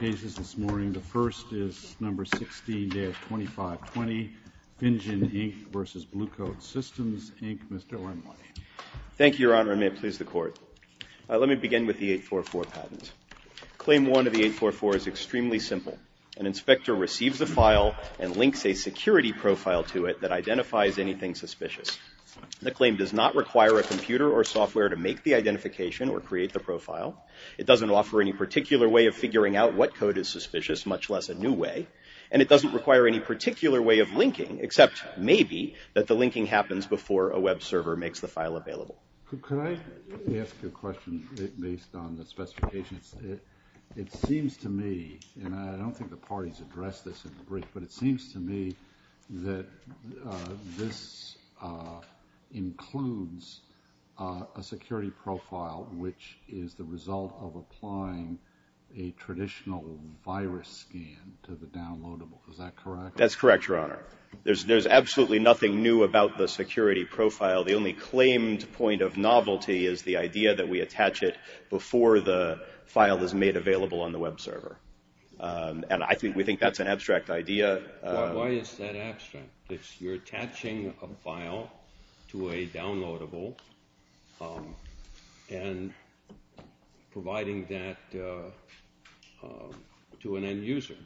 cases this morning. The first is No. 16-2520, Vinjan, Inc. v. Blue Coat Systems, Inc. Mr. Ormley. Thank you, Your Honor, and may it please the Court. Let me begin with the 844 patent. Claim one of the 844 is extremely simple. An inspector receives a file and links a security profile to it that identifies anything suspicious. The claim does not require a computer or software to make the identification or create the profile. It doesn't offer any particular way of figuring out what code is suspicious, much less a new way. And it doesn't require any particular way of linking, except maybe that the linking happens before a web server makes the file available. Could I ask you a question based on the specifications? It seems to me, and I don't think the parties addressed this in the brief, but it seems to me that this includes a security profile which is the result of applying a traditional virus scan to the downloadable. Is that correct? That's correct, Your Honor. There's absolutely nothing new about the security profile. The only claimed point of novelty is the idea that we attach it before the file is made available on the web server. And I think we think that's an abstract idea. Why is that abstract? You're attaching a file to a downloadable and providing that to an end user.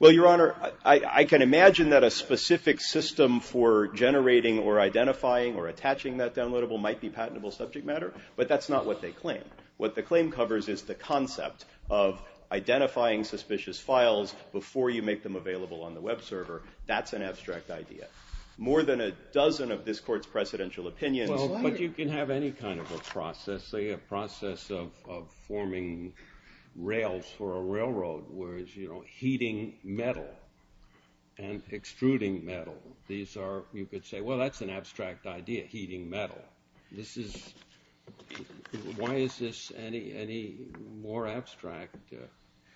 Well, Your Honor, I can imagine that a specific system for generating or identifying or attaching that downloadable might be patentable subject matter, but that's not what they claim. What the claim covers is the concept of identifying suspicious files before you make them available on the web server. That's an abstract idea. More than a dozen of this Court's presidential opinions... But you can have any kind of a process, say a process of forming rails for a railroad where it's heating metal and extruding metal. You could say, well, that's an abstract idea, heating metal. Why is this any more abstract?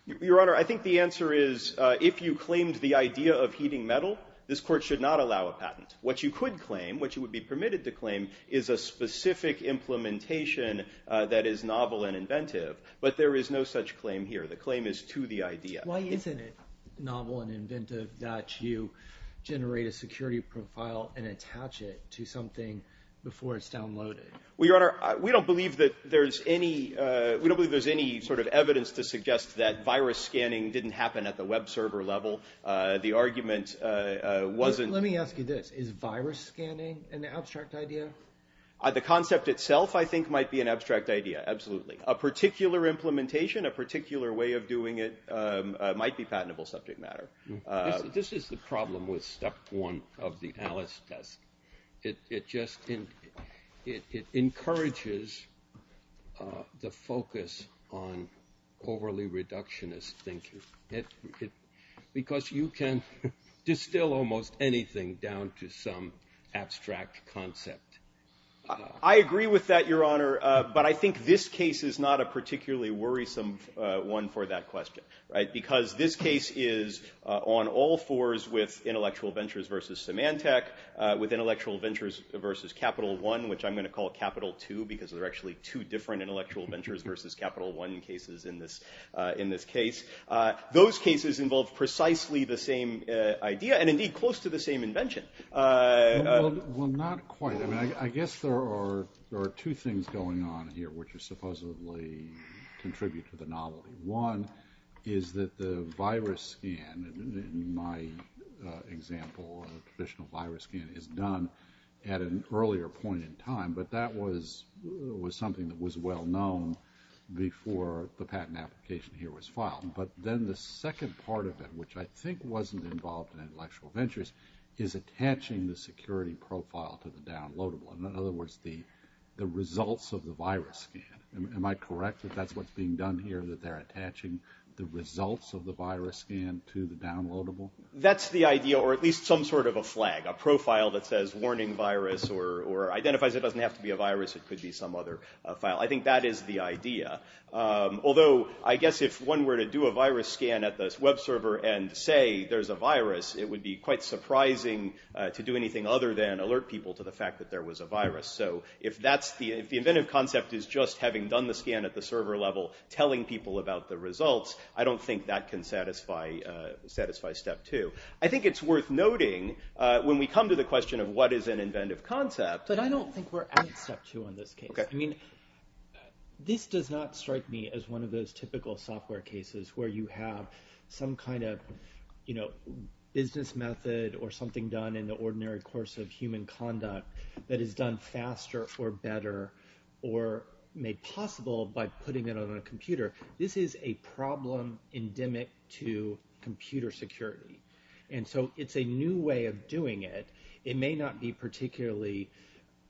Your Honor, I think the answer is if you claimed the idea of heating metal, this Court should not allow a patent. What you could claim, what you would be permitted to claim, is a specific implementation that is novel and inventive. But there is no such claim here. The claim is to the idea. Why isn't it novel and inventive that you generate a security profile and attach it to something before it's downloaded? Well, Your Honor, we don't believe that there's any sort of evidence to suggest that virus scanning didn't happen at the web server level. The argument wasn't... Let me ask you this. Is virus scanning an abstract idea? The concept itself, I think, might be an abstract idea. Absolutely. A particular implementation, a particular way of doing it might be patentable subject matter. This is the problem with step one of the Alice test. It encourages the focus on overly reductionist thinking because you can distill almost anything down to some abstract concept. I agree with that, Your Honor, but I think this case is not a particularly worrisome one for that question because this case is on all fours with intellectual ventures versus Symantec, with intellectual ventures versus Capital One, which I'm going to call Capital Two because there are actually two different intellectual ventures versus Capital One cases in this case. Those cases involve precisely the same idea and indeed close to the same invention. Well, not quite. I guess there are two things going on here which supposedly contribute to the novelty. One is that the virus scan, in my example, a traditional virus scan is done at an earlier point in time, but that was something that was well known before the patent application here was filed. But then the second part of it, which I think wasn't involved in intellectual ventures, is attaching the security profile to the downloadable. In other words, the results of the virus scan. Am I correct that that's what's being done here, that they're attaching the results of the virus scan to the downloadable? That's the idea, or at least some sort of a flag, a profile that says warning virus or identifies it doesn't have to be a virus, it could be some other file. I think that is the idea. Although, I guess if one were to do a virus scan at this web server and say there's a virus, it would be quite surprising to do anything other than alert people to the fact that there was a virus. If the inventive concept is just having done the scan at the server level, telling people about the results, I don't think that can satisfy step two. I think it's worth noting, when we come to the question of what is an inventive concept... But I don't think we're at step two in this case. This does not strike me as one of those typical software cases where you have some kind of business method or something done in the ordinary course of human conduct that is done faster or better or made possible by putting it on a computer. This is a problem endemic to computer security. It's a new way of doing it. It may not be particularly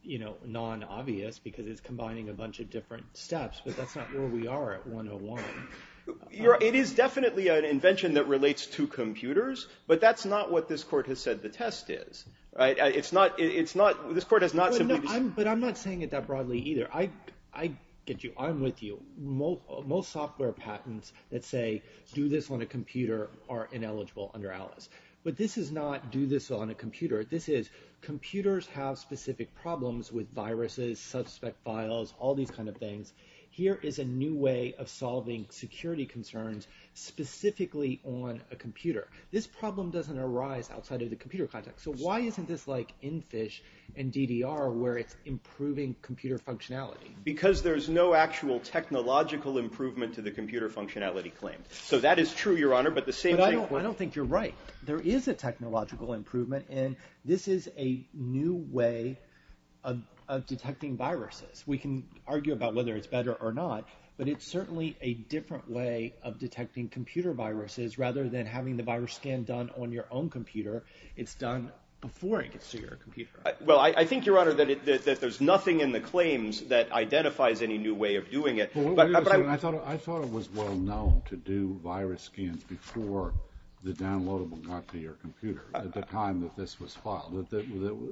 non-obvious because it's combining a bunch of different steps, but that's not where we are at 101. It is definitely an invention that relates to computers, but that's not what this court has said the test is. But I'm not saying it that broadly either. I'm with you. Most software patents that say do this on a computer are ineligible under Alice. But this is not do this on a computer. This is computers have specific problems with viruses, suspect files, all these kind of things. Here is a new way of solving security concerns specifically on a computer. This problem doesn't arise outside of the computer context. So why isn't this like NPHISH and DDR where it's improving computer functionality? Because there's no actual technological improvement to the computer functionality claim. So that is true, Your Honor, but the same... But I don't think you're right. There is a technological improvement and this is a new way of detecting viruses. We can argue about whether it's better or not, but it's certainly a different way of detecting computer viruses rather than having the virus scan done on your own computer. It's done before it gets to your computer. Well, I think, Your Honor, that there's nothing in the claims that identifies any new way of doing it. I thought it was well known to do virus scans before the downloadable and not to your computer at the time that this was filed.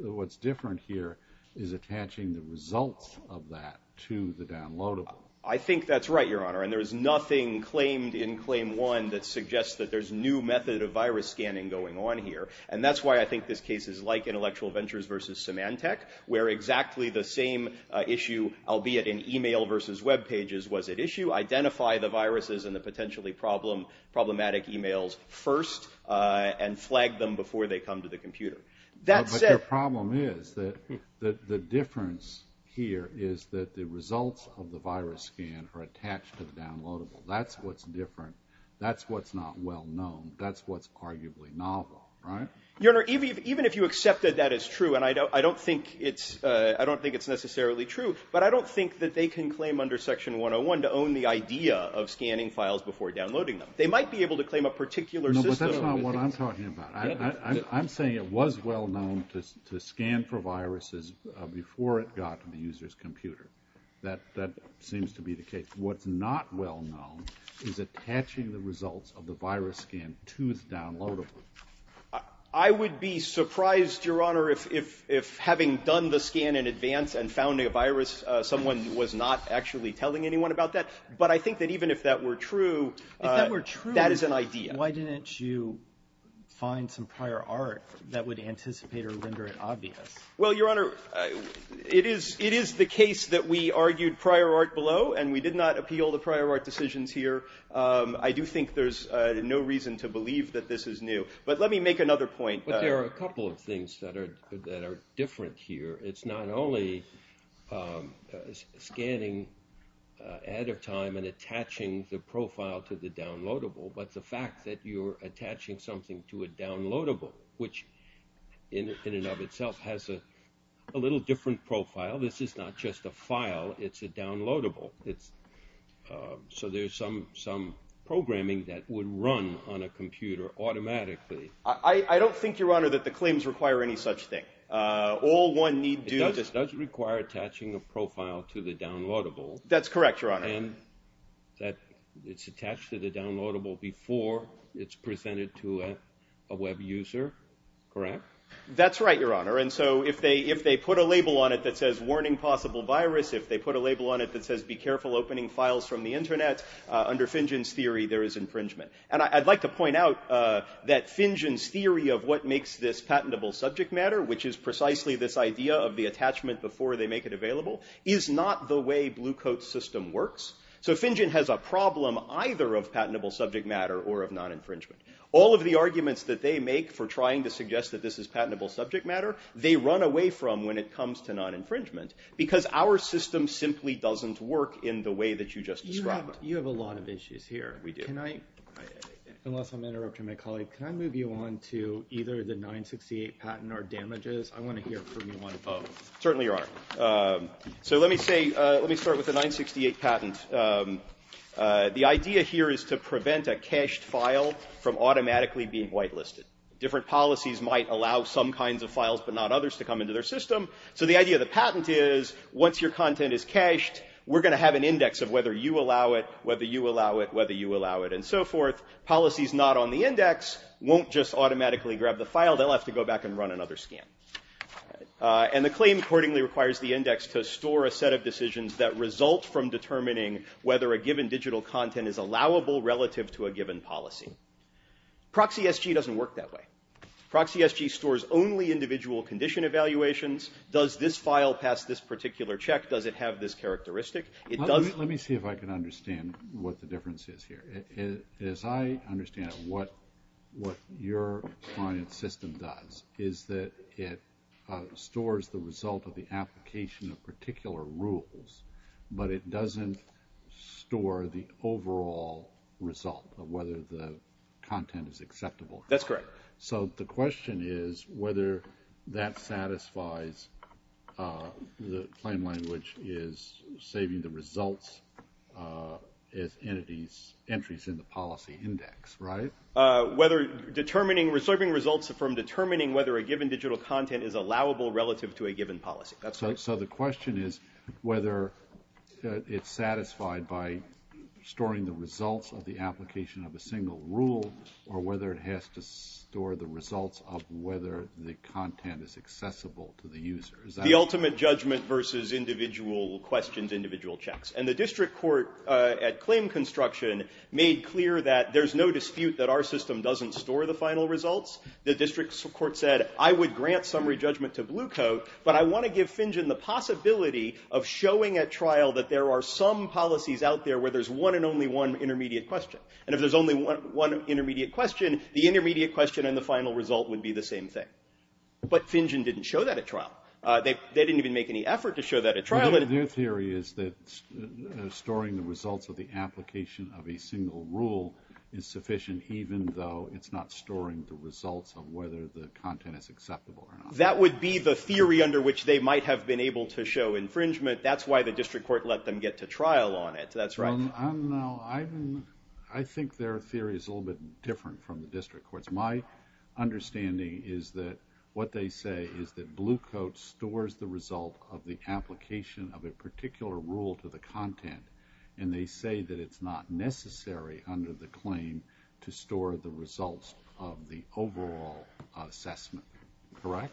What's different here is attaching the results of that to the downloadable. I think that's right, Your Honor, and there's nothing claimed in Claim 1 that suggests that there's new method of virus scanning going on here. And that's why I think this case is like Intellectual Ventures v. Symantec where exactly the same issue, albeit in email v. web pages, was at issue. Identify the viruses and the potentially problematic emails first and flag them before they come to the computer. But the problem is that the difference here is that the results of the virus scan are attached to the downloadable. That's what's different. That's what's not well known. That's what's arguably novel, right? Your Honor, even if you accept that that is true, and I don't think it's necessarily true, but I don't think that they can claim under Section 101 to own the idea of scanning from a particular system. No, but that's not what I'm talking about. I'm saying it was well known to scan for viruses before it got to the user's computer. That seems to be the case. What's not well known is attaching the results of the virus scan to the downloadable. I would be surprised, Your Honor, if having done the scan in advance and found a virus, someone was not actually telling anyone about that. But I think that even if that were true, that is an idea. If that were true, why didn't you find some prior art that would anticipate or render it obvious? Well, Your Honor, it is the case that we argued prior art below and we did not appeal the prior art decisions here. I do think there's no reason to believe that this is new. But let me make another point. But there are a couple of things that are different here. It's not only scanning ahead of time and attaching the profile to the downloadable, but the fact that you're attaching something to a downloadable, which in and of itself has a little different profile. This is not just a file. It's a downloadable. So there's some programming that would run on a computer automatically. I don't think, Your Honor, that the claims require any such thing. All one need do... It does require attaching a profile to the downloadable. That's correct, Your Honor. And that it's attached to the downloadable before it's presented to a web user. Correct? That's right, Your Honor. And so if they put a label on it that says, warning possible virus, if they put a label on it that says, be careful opening files from the internet, under Fingen's theory, there is infringement. And I'd like to point out that Fingen's theory of what makes this patentable subject matter, which is precisely this idea of the attachment before they make it available, is not the way Blue Coat's system works. So Fingen has a problem either of patentable subject matter or of non-infringement. All of the arguments that they make for trying to suggest that this is patentable subject matter, they run away from when it comes to non-infringement. Because our system simply doesn't work in the way that you just described. You have a lot of issues here. We do. Unless I'm interrupting my colleague, can I move you on to either the 968 patent or damages? I want to hear from you on both. Certainly, Your Honor. So let me start with the 968 patent. The idea here is to prevent a cached file from automatically being whitelisted. Different policies might allow some kinds of files but not others to come into their system. So the idea of the patent is once your content is cached, we're going to have an index of whether you allow it, whether you allow it, whether you allow it, and so forth. Policies not on the index won't just automatically grab the file. They'll have to go back and run another scan. And the claim accordingly requires the index to store a set of decisions that result from determining whether a given digital content is allowable relative to a given policy. ProxySG doesn't work that way. ProxySG stores only individual condition evaluations. Does this file pass this particular check? Does it have this characteristic? Let me see if I can understand what the difference is here. As I understand it, what your client system does is that it stores the result of the application of particular rules, but it doesn't store the overall result of whether the content is acceptable. That's correct. So the question is whether that satisfies the claim language is saving the results as entries in the policy index, right? Serving results from determining whether a given digital content is allowable relative to a given policy. So the question is whether it's satisfied by storing the results of the application of a single rule or whether it has to store the results of whether the content is accessible to the user. The ultimate judgment versus individual questions, individual checks. And the district court at claim construction made clear that there's no dispute that our system doesn't store the final results. The district court said, I would grant summary judgment to Blue Coat, but I want to give Fingen the possibility of showing at trial that there are some policies out there where there's one and only one intermediate question. And if there's only one intermediate question, the intermediate question and the final result would be the same thing. But Fingen didn't show that at trial. They didn't even make any effort to show that at trial. Their theory is that storing the results of the application of a single rule is sufficient even though it's not storing the results of whether the content is acceptable or not. That would be the theory under which they might have been able to show infringement. That's why the district court let them get to trial on it. That's right. I think their theory is a little bit different from the district court's. My understanding is that what they say is that Blue Coat stores the result of the application of a particular rule to the content, and they say that it's not necessary under the claim to store the results of the overall assessment. Correct?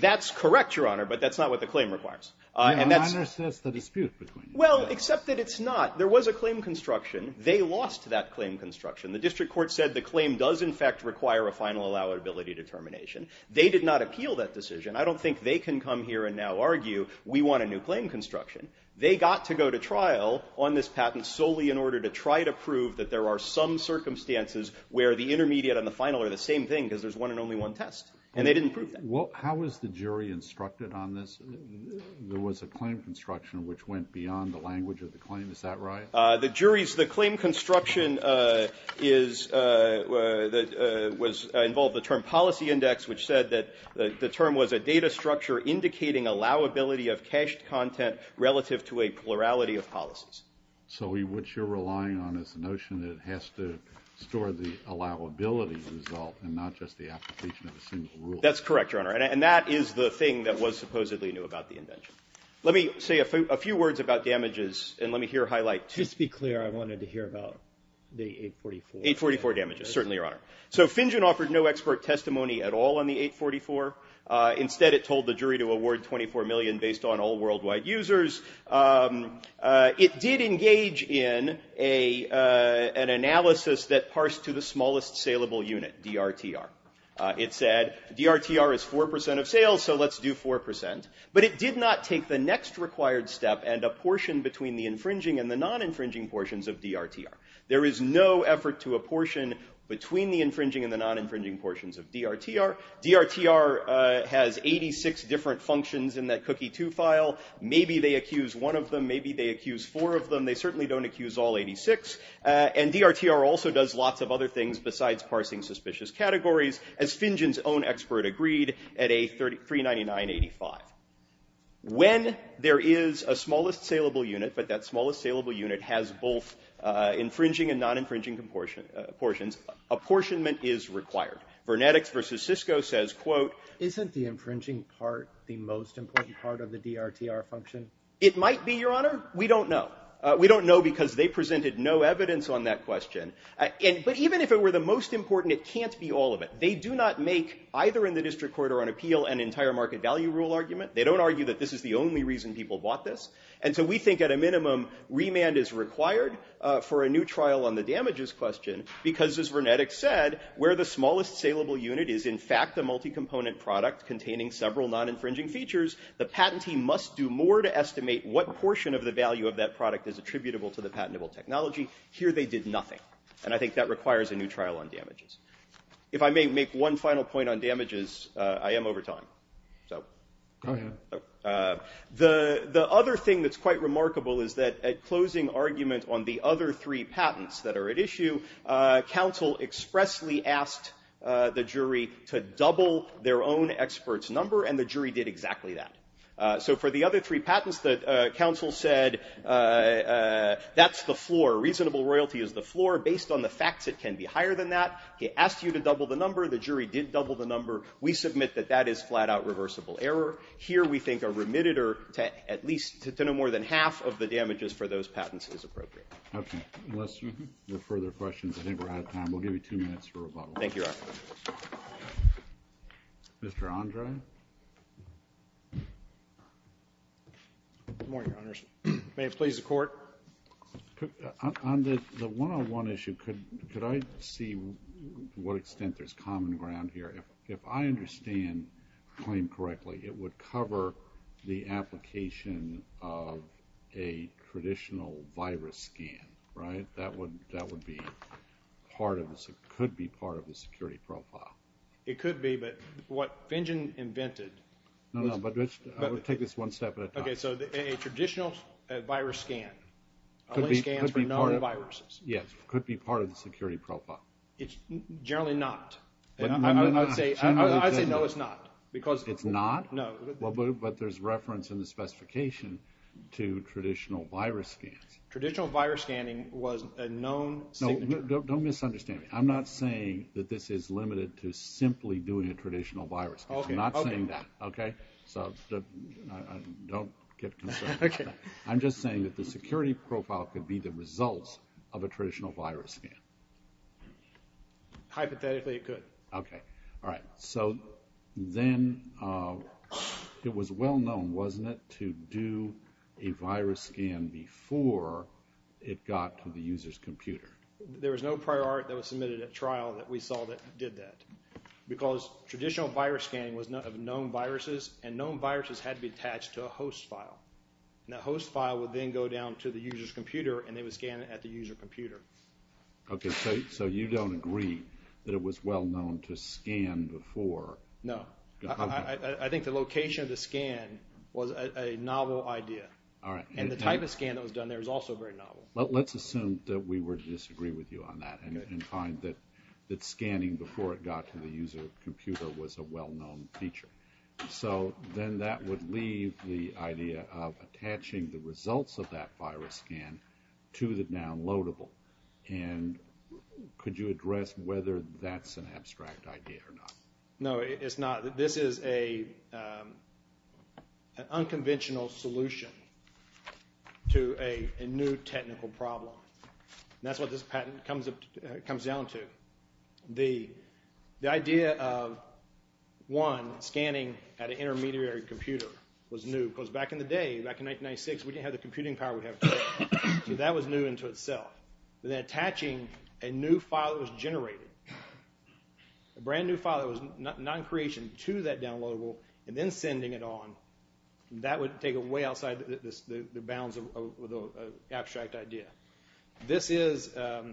That's correct, Your Honor, but that's not what the claim requires. Your Honor says there's a dispute. Well, except that it's not. There was a claim construction. They lost that claim construction. The district court said the claim does in fact require a final allowability determination. They did not appeal that decision. I don't think they can come here and now argue we want a new claim construction. They got to go to trial on this patent solely in order to try to prove that there are some circumstances where the intermediate and the final are the same thing because there's one and only one test, and they didn't prove that. How was the jury instructed on this? There was a claim construction which went beyond the language of the claim. Is that right? The claim construction involved the term policy index, which said that the term was a data structure indicating allowability of cached content relative to a plurality of policies. So what you're relying on is the notion that it has to store the allowability result and not just the application of a single rule. That's correct, Your Honor, and that is the thing that was supposedly new about the invention. Let me say a few words about damages, and let me here highlight two. Just to be clear, I wanted to hear about the 844. 844 damages, certainly, Your Honor. So Finjen offered no expert testimony at all on the jury to award $24 million based on all worldwide users. It did engage in an analysis that parsed to the smallest saleable unit, DRTR. It said, DRTR is 4% of sales, so let's do 4%. But it did not take the next required step and a portion between the infringing and the non-infringing portions of DRTR. There is no effort to a portion between the infringing and the non-infringing portions of DRTR. DRTR has 86 different functions in that cookie 2 file. Maybe they accuse one of them, maybe they accuse four of them. They certainly don't accuse all 86. And DRTR also does lots of other things besides parsing suspicious categories, as Finjen's own expert agreed at a $399.85. When there is a smallest saleable unit, but that smallest saleable unit has both infringing and non-infringing portions, apportionment is the most important part of the DRTR function? It might be, Your Honor. We don't know. We don't know because they presented no evidence on that question. But even if it were the most important, it can't be all of it. They do not make either in the district court or on appeal an entire market value rule argument. They don't argue that this is the only reason people bought this. And so we think at a minimum, remand is required for a new trial on the damages question, because as Vernetik said, where the smallest saleable unit is in fact a multi-component product containing several non-infringing features, the patentee must do more to estimate what portion of the value of that product is attributable to the patentable technology. Here they did nothing. And I think that requires a new trial on damages. If I may make one final point on damages, I am over time. The other thing that's quite remarkable is that at closing argument on the other three patents that are at issue, counsel expressly asked the jury to double their own expert's number, and the jury did exactly that. So for the other three patents, the counsel said that's the floor. Reasonable royalty is the floor. Based on the facts, it can be higher than that. He asked you to double the number. The jury did double the number. We submit that that is flat-out reversible error. Here we think a remitted or at least to no more than half of the damages for those patents is appropriate. Okay. Unless there are further questions, I think we're out of time. We'll give you two minutes for rebuttal. Thank you, Your Honor. Mr. Andre? Good morning, Your Honors. May it please the Court? On the one-on-one issue, could I see what extent there's common ground here? If I understand the claim correctly, it would cover the application of a traditional virus scan, right? That could be part of the security profile. It could be, but what Finjen invented... I'll take this one step at a time. Okay, so a traditional virus scan only scans for known viruses. Yes, it could be part of the security profile. It's generally not. I'd say no, it's not. It's not? No. But there's reference in the specification to traditional virus scans. Traditional virus scanning was a known signature. Don't misunderstand me. I'm not saying that this is limited to simply doing a traditional virus scan. I'm not saying that. Don't get concerned about that. I'm just saying that the security profile could be the result of a traditional virus scan. Hypothetically, it could. Okay, alright, so then it was well-known, wasn't it, to do a virus scan before it got to the user's computer? There was no prior art that was submitted at trial that we saw that did that. Because traditional virus scanning was of known viruses, and known viruses had to be attached to a host file. And that host file would then go down to the user's computer, and they would scan it at the user computer. Okay, so you don't agree that it was well-known to scan before No. I think the location of the scan was a novel idea. And the type of scan that was done there was also very novel. Let's assume that we would disagree with you on that, and find that scanning before it got to the user's computer was a well-known feature. So then that would leave the idea of attaching the results of that virus scan to the downloadable. And could you address whether that's an abstract idea or not? No, it's not. This is a unconventional solution to a new technical problem. And that's what this patent comes down to. The idea of one, scanning at an intermediary computer was new. Because back in the day, back in 1996, we didn't have the computing power we have today. So that was new into itself. But then attaching a new file that was generated, a brand new file that was non-creation to that downloadable, and then sending it on, that would take it way outside the bounds of the abstract idea. This is a,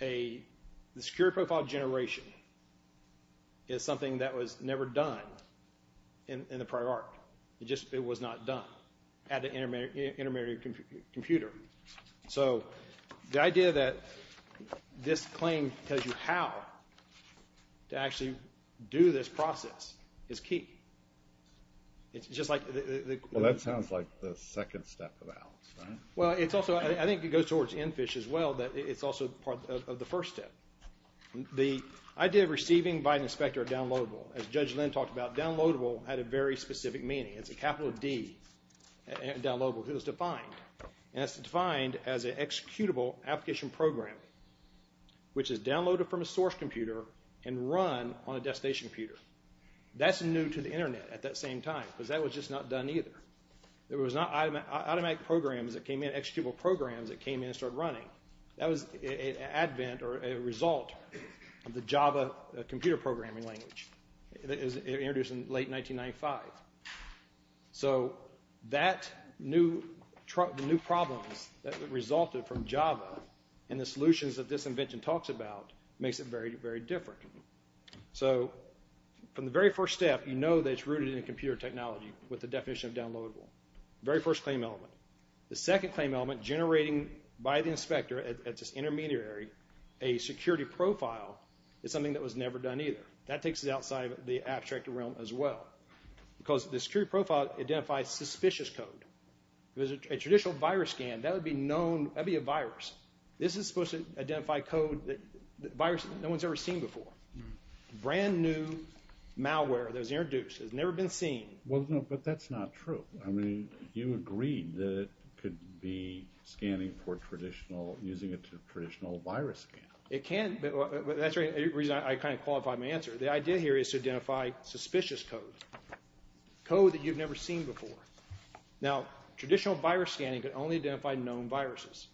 the security profile generation is something that was never done in the prior arc. It just, it was not done. At an intermediary computer. So the idea that this claim tells you how to actually do this process is key. It's just like... Well, that sounds like the second step of Alice, right? Well, it's also, I think it goes towards EnFish as well, that it's also part of the first step. The idea of receiving by an inspector a downloadable, as Judge Lynn talked about, downloadable had a very specific meaning. It's a capital D downloadable. It was defined. And it's defined as an executable application program which is downloaded from a source computer and run on a desk station computer. That's new to the internet at that same time. Because that was just not done either. There was not automatic programs that came in, executable programs that came in and started running. That was an advent or a result of the Java computer programming language. It was introduced in late 1995. So that new problems that resulted from Java and the solutions that this invention talks about makes it very, very different. So from the very first step you know that it's rooted in computer technology with the definition of downloadable. Very first claim element. The second claim element generating by the inspector at this intermediary a security profile is something that was never done either. That takes us outside of the abstract realm as well. Because the security profile identifies suspicious code. If it was a traditional virus scan that would be known, that would be a virus. This is supposed to identify code that no one's ever seen before. Brand new malware that was introduced has never been seen. Well, no, but that's not true. I mean, you agreed that it could be scanning for traditional, using a traditional virus scan. It can, but that's the reason I kind of qualified my answer. The idea here is to identify suspicious code. Code that you've never seen before. Now traditional virus scanning could only identify known viruses.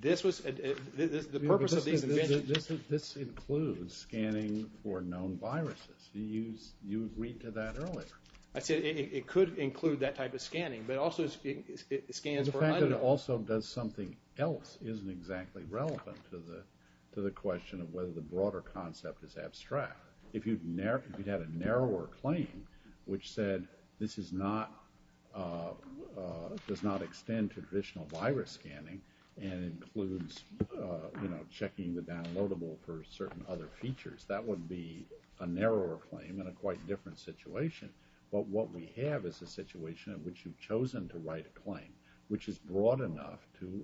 This was, the purpose of these inventions... This includes scanning for known viruses. You agreed to that earlier. I said it could include that type of scanning, but also it scans for... The fact that it also does something else isn't exactly relevant to the question of whether the broader concept is abstract. If you had a narrower claim, which said this does not extend to traditional virus scanning and includes checking the downloadable for certain other features, that would be a narrower claim in a quite different situation. But what we have is a situation in which you've chosen to write a claim, which is broad enough to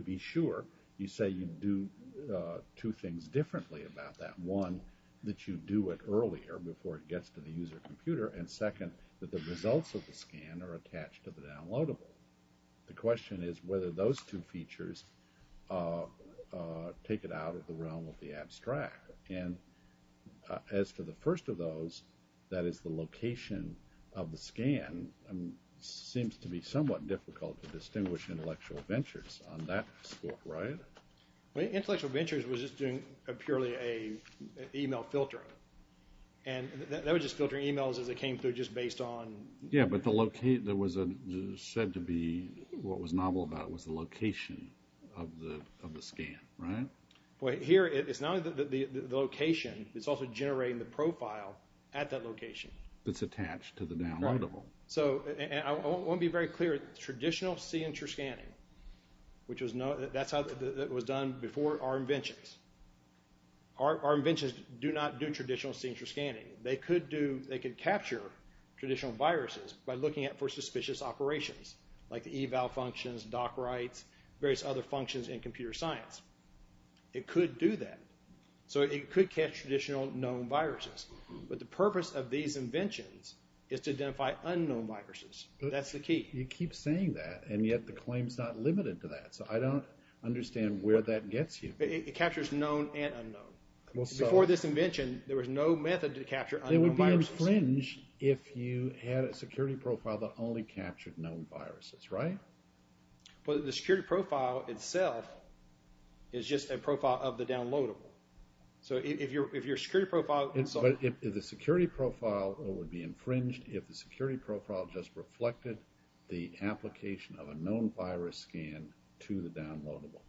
be sure. You say you do two things differently about that. One, that you do it earlier, before it gets to the user computer. And second, that the results of the scan are attached to the downloadable. The question is whether those two features take it out of the realm of the abstract. As to the first of those, that is the location of the scan, seems to be somewhat difficult to understand that scope, right? Intellectual Ventures was just doing purely an email filter. And that was just filtering emails as it came through, just based on... Yeah, but the location said to be what was novel about was the location of the scan, right? Here, it's not only the location it's also generating the profile at that location. That's attached to the downloadable. I want to be very clear, traditional signature scanning, that's how it was done before our inventions. Our inventions do not do traditional signature scanning. They could capture traditional viruses by looking for suspicious operations, like the eval functions, doc writes, various other functions in computer science. It could do that. So it could catch traditional known viruses. But the purpose of these inventions is to identify unknown viruses. That's the key. You keep saying that, and yet the claim's not limited to that. So I don't understand where that gets you. It captures known and unknown. Before this invention, there was no method to capture unknown viruses. It would be infringed if you had a security profile that only captured known viruses, right? But the security profile itself is just a profile of the downloadable. So if your security profile... But if the security profile would be reflected the application of a known virus scan to the downloadable.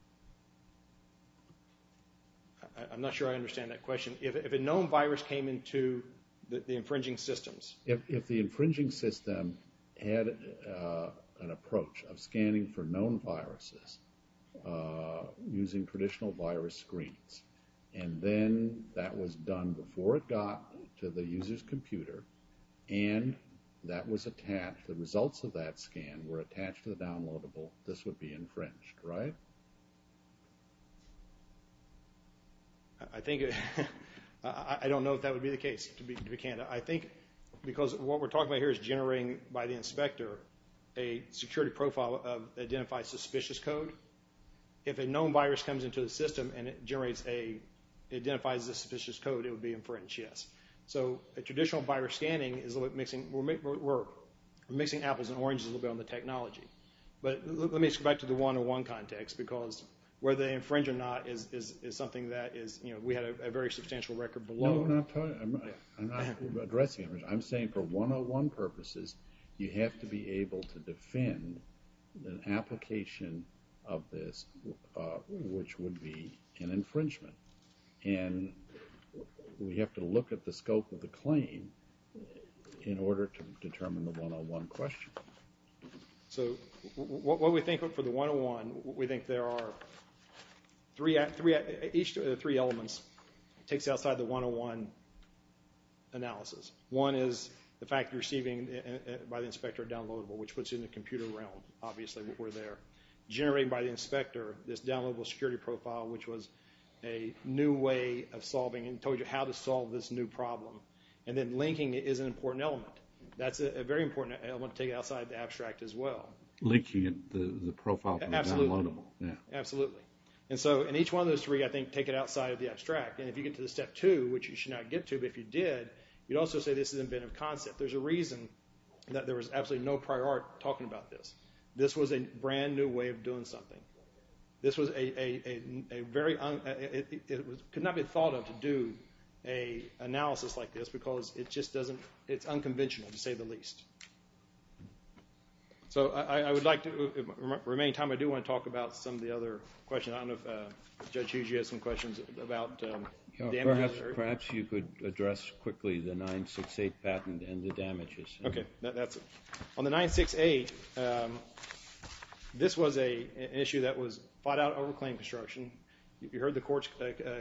I'm not sure I understand that question. If a known virus came into the infringing systems... If the infringing system had an approach of scanning for known viruses using traditional virus screens, and then that was done before it got to the user's computer, and the results of that scan were attached to the downloadable, this would be infringed, right? I think... I don't know if that would be the case. I think because what we're talking about here is generating by the inspector a security profile that identifies suspicious code. If a known virus comes into the system and it identifies a suspicious code, it would be infringed, yes. So a traditional virus scanning is a little bit mixing... We're mixing apples and oranges a little bit on the technology. But let me go back to the 101 context because whether they infringe or not is something that is, you know, we had a very substantial record below. I'm not addressing it. I'm saying for 101 purposes, you have to be able to defend an application of this which would be an infringement. And we have to look at the scope of the claim in order to determine the 101 question. So what we think for the 101, we think there are each of the three elements takes outside the 101 analysis. One is the fact you're receiving by the inspector a downloadable, which puts you in the computer realm, obviously, generated by the inspector, this downloadable security profile, which was a new way of solving and told you how to solve this new problem. And then linking is an important element. That's a very important element to take outside the abstract as well. Linking the profile from the downloadable. Absolutely. And so in each one of those three, I think, take it outside of the abstract. And if you get to the step two, which you should not get to, but if you did, you'd also say this is inventive concept. There's a reason that there was absolutely no prior art talking about this. This was a brand new way of doing something. This was a very, it could not be thought of to do an analysis like this because it just doesn't, it's unconventional to say the least. So I would like to remain time. I do want to talk about some of the other questions. I don't know if Judge Hughes, you had some questions about damages? Perhaps you could address quickly the 968 patent and the damages. On the 968, this was an issue that was fought out over claim construction. You heard the court's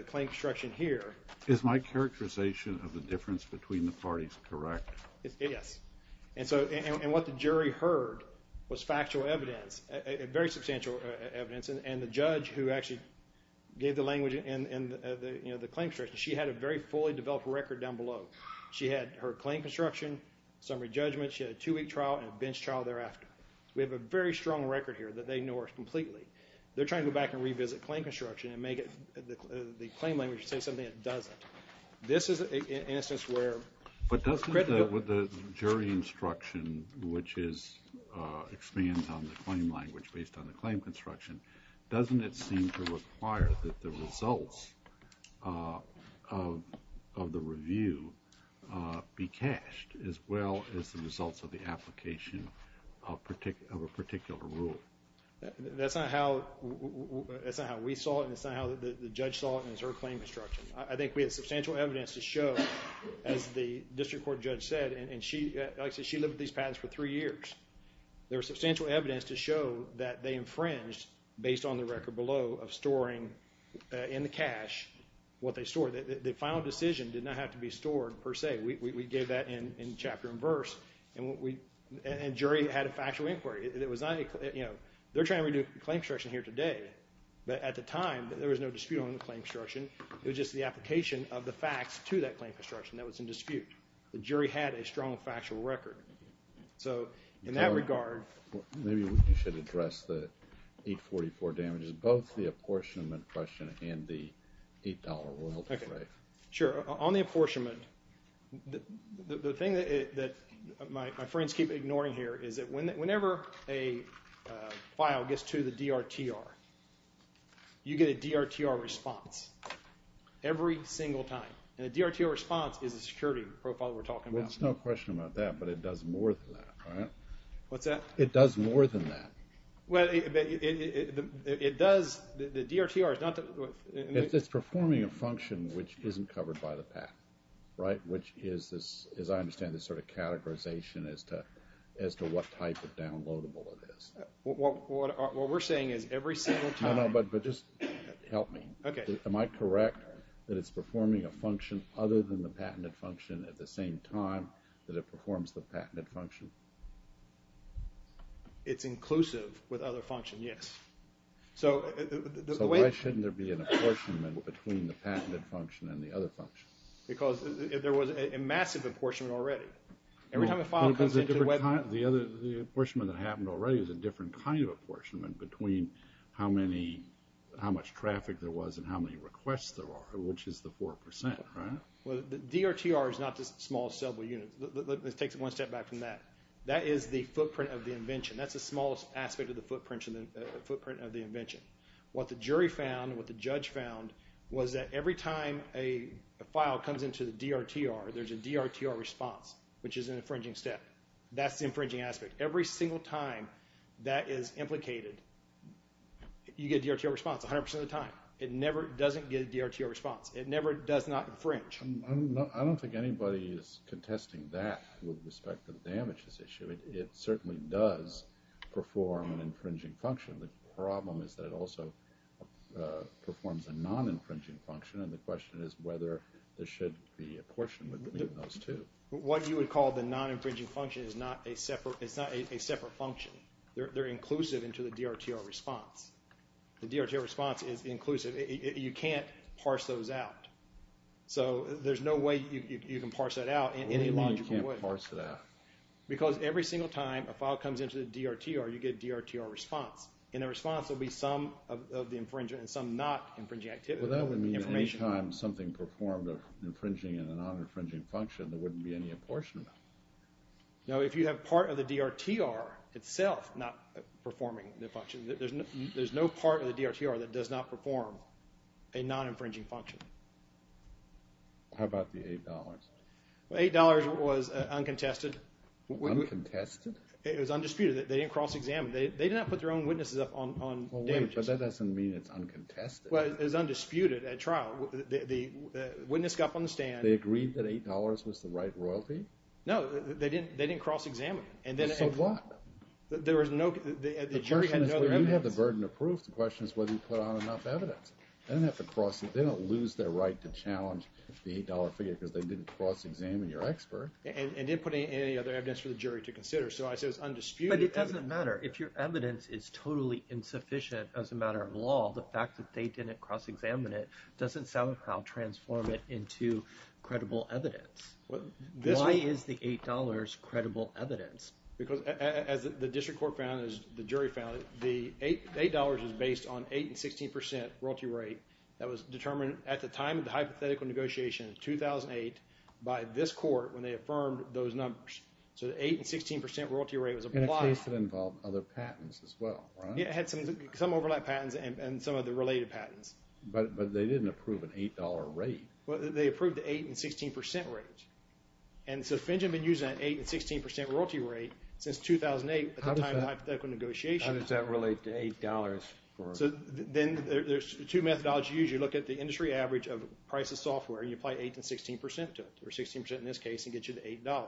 claim construction here. Is my characterization of the difference between the parties correct? Yes. And what the jury heard was factual evidence, very substantial evidence and the judge who actually gave the language in the claim construction, she had a very fully developed record down below. She had her claim construction, summary judgment, she had a two week trial and a bench trial thereafter. We have a very strong record here that they ignore completely. They're trying to go back and revisit claim construction and make the claim language say something it doesn't. This is an instance where... But doesn't the jury instruction which is, expands on the claim language based on the claim construction, doesn't it seem to require that the results of the review be cached as well as the results of the application of a particular rule? That's not how we saw it and it's not how the judge saw it in her claim construction. I think we had substantial evidence to show as the district court judge said and she, like I said, she lived with these patents for three years. There was substantial evidence to show that they infringed based on the record below of storing in the cash what they stored. The final decision did not have to be stored per se. We gave that in chapter and verse and jury had a factual inquiry. They're trying to redo claim construction here today but at the time there was no dispute on the claim construction. It was just the application of the facts to that claim construction that was in dispute. The jury had a strong factual record. So in that regard... Maybe you should address the 844 damages, both the apportionment question and the $8 royalty claim. Sure. On the apportionment the thing that my friends keep ignoring here is that whenever a file gets to the DRTR, you get a DRTR response every single time. And a DRTR response is a security profile we're talking about. There's no question about that but it does more than that. What's that? It does more than that. The DRTR is not... It's performing a function which isn't covered by the patent. Which is, as I understand this sort of categorization as to what type of downloadable it is. What we're saying is every single time... Help me. Am I correct that it's performing a function other than the patented function at the same time that it performs the patented function? It's inclusive with other functions, yes. So why shouldn't there be an apportionment between the patented function and the other function? Because there was a massive apportionment already. The apportionment that happened already is a different kind of apportionment between how much traffic there was and how many requests there are, which is the 4%, right? DRTR is not the smallest sellable unit. Let's take one step back from that. That is the footprint of the invention. That's the smallest aspect of the footprint of the invention. What the jury found, what the judge found, was that every time a file comes into the DRTR, there's a DRTR response which is an infringing step. That's the infringing aspect. Every single time that is implicated, you get a DRTR response 100% of the time. It never doesn't get a DRTR response. It never does not infringe. I don't think anybody is contesting that with respect to the damages issue. It certainly does perform an infringing function. It also performs a non-infringing function and the question is whether there should be apportionment between those two. What you would call the non-infringing function is not a separate function. They're inclusive into the DRTR response. The DRTR response is inclusive. You can't parse those out. There's no way you can parse that out in any logical way. Because every single time a file comes into the DRTR, you get a DRTR response. In the response, there will be some of the infringement and some not infringing information. Well, that would mean that any time something performed an infringing and a non-infringing function, there wouldn't be any apportionment. No, if you have part of the DRTR itself not performing the function. There's no part of the DRTR that does not perform a non-infringing function. How about the $8? Well, $8 was uncontested. Uncontested? It was undisputed. They didn't cross-examine. They did not put their own witnesses up on damages. But that doesn't mean it's uncontested. Well, it was undisputed at trial. The witness got up on the stand. They agreed that $8 was the right royalty? No, they didn't cross-examine. So what? The jury had no other evidence. The question is whether you have the burden of proof. The question is whether you put on enough evidence. They don't lose their right to challenge the $8 figure because they didn't cross-examine your expert. And didn't put any other evidence for the jury to consider. So I say it's undisputed. But it doesn't matter. If your evidence is totally insufficient as a matter of law, the fact that they didn't cross-examine it doesn't somehow transform it into credible evidence. Why is the $8 credible evidence? Because as the district court found, as the jury found, the $8 is based on 8 and 16% royalty rate that was determined at the time of the hypothetical negotiation in 2008 by this court when they affirmed those numbers. So the 8 and 16% royalty rate was applied. In a case that involved other patents as well, right? Yeah, it had some overlap patents and some other related patents. But they didn't approve an $8 rate. Well, they approved the 8 and 16% rate. And so Finch had been using that 8 and 16% royalty rate since 2008 at the time of the hypothetical negotiation. How does that relate to $8? So then there's two methodologies you use. You look at the industry average of price of software and you apply 8 and 16% to it, or 16% in this case, and get you to $8.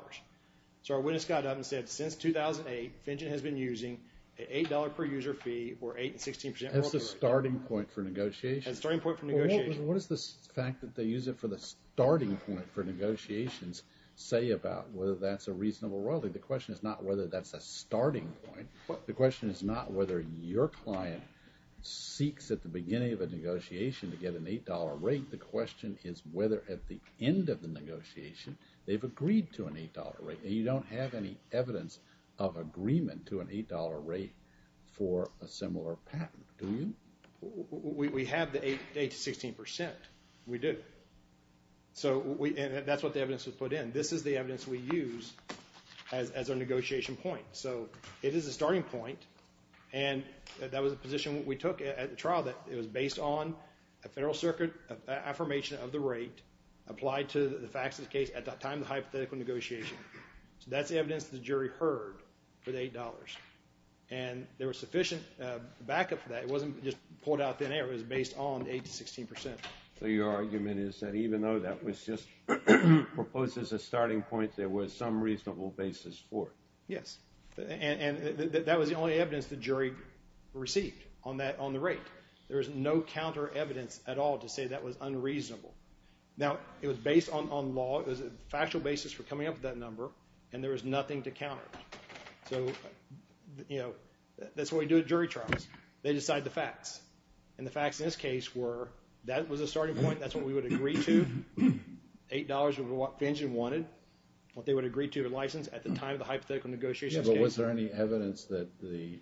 So our witness got up and said, since 2008, Finch has been using an $8 per user fee or 8 and 16% royalty rate. That's the starting point for negotiation? That's the starting point for negotiation. Well, what does the fact that they use it for the starting point for negotiations say about whether that's a reasonable royalty? The question is not whether that's a starting point. The question is not whether your client seeks at the beginning of a negotiation to get an $8 rate. The question is whether at the end of the negotiation they've agreed to an $8 rate. And you don't have any evidence of agreement to an $8 rate for a similar patent, do you? We have the 8 and 16%. We do. So that's what the evidence was put in. This is the evidence we use as our negotiation point. So it is a starting point, and that was a position we took at the trial, that it was based on a Federal Circuit affirmation of the rate applied to the facts of the case at the time of the hypothetical negotiation. So that's the evidence the jury heard for the $8. And there was sufficient backup for that. It wasn't just pulled out thin air. It was based on the 8 and 16%. So your argument is that even though that was just proposed as a starting point, there was some reasonable basis for it? Yes. And that was the only evidence the jury received on the rate. There was no counter evidence at all to say that was unreasonable. Now, it was based on factual basis for coming up with that number, and there was nothing to counter it. So, you know, that's what we do at jury trials. They decide the facts. And the facts in this case were that was a starting point. That's what we would agree to. $8 was what Finch and wanted. What they would agree to or license at the time of the hypothetical negotiations. Yeah, but was there any evidence that the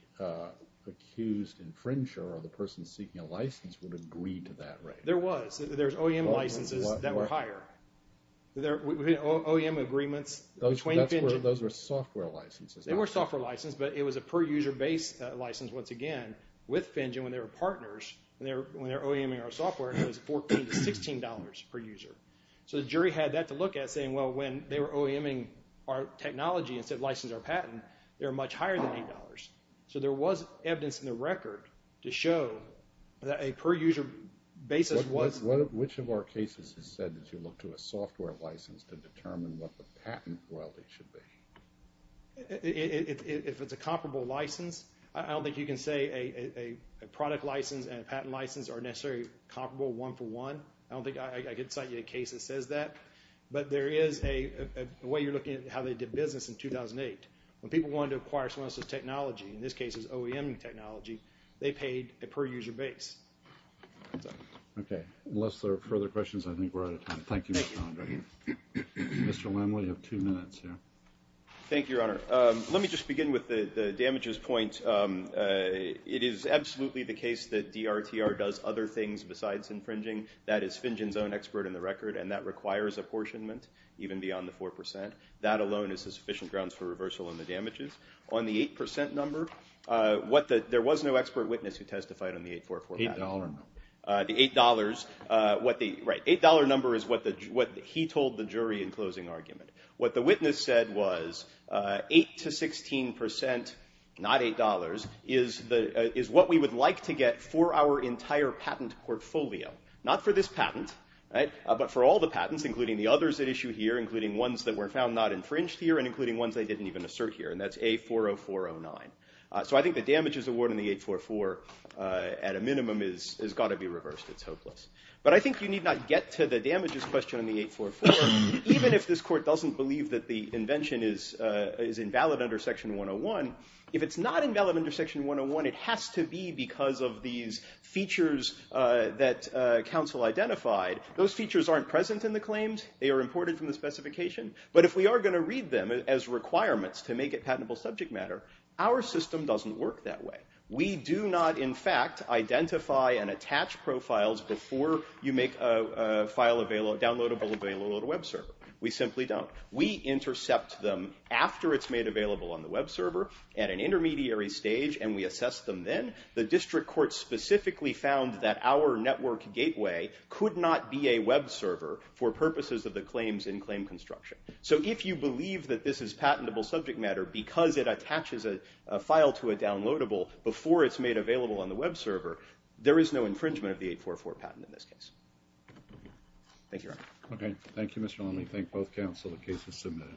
accused infringer or the person seeking a license would agree to that rate? There was. There's OEM licenses that were higher. OEM agreements. Those were software licenses. They were software licenses, but it was a per user base license, once again, with Finch and when they were partners when they were OEMing our software, it was $14 to $16 per user. So the jury had that to look at saying, well, when they were OEMing our technology and said license our patent, they were much higher than $8. So there was evidence in the record to show that a per user basis was... Which of our cases has said that you look to a software license to determine what the patent royalty should be? If it's a comparable license, I don't think you can say a product license and a patent license are necessarily comparable one for one. I don't think I could cite you a case that says that. But there is a way you're looking at how they did business in 2008. When people wanted to acquire someone else's technology, in this case it was OEMing technology, they paid a per user base. Okay. Unless there are further questions, I think we're out of time. Thank you, Mr. Conrad. Mr. Lemley, you have two minutes here. Thank you, Your Honor. Let me just begin with the damages point. It is absolutely the case that DRTR does other things besides infringing. That is Finch's own expert in the field. Even beyond the 4%. That alone is the sufficient grounds for reversal in the damages. On the 8% number, there was no expert witness who testified on the 844 patent. The $8. Right. The $8 number is what he told the jury in closing argument. What the witness said was 8% to 16%, not $8, is what we would like to get for our entire patent portfolio. Not for this patent, but for all the patents, including the others at issue here, including ones that were found not infringed here, and including ones they didn't even assert here. And that's A40409. So I think the damages award on the 844, at a minimum, has got to be reversed. It's hopeless. But I think you need not get to the damages question on the 844. Even if this Court doesn't believe that the invention is invalid under Section 101, if it's not invalid under Section 101, it has to be because of these features that are present in the claims. They are imported from the specification. But if we are going to read them as requirements to make it patentable subject matter, our system doesn't work that way. We do not, in fact, identify and attach profiles before you make a file downloadable available on a web server. We simply don't. We intercept them after it's made available on the web server, at an intermediary stage, and we assess them then. The District Court specifically found that our network gateway could not be a web server for purposes of the claims in claim construction. So if you believe that this is patentable subject matter because it attaches a file to a downloadable before it's made available on the web server, there is no infringement of the 844 patent in this case. Thank you, Your Honor. Okay. Thank you, Mr. Lonely. I thank both counsel. The case is submitted.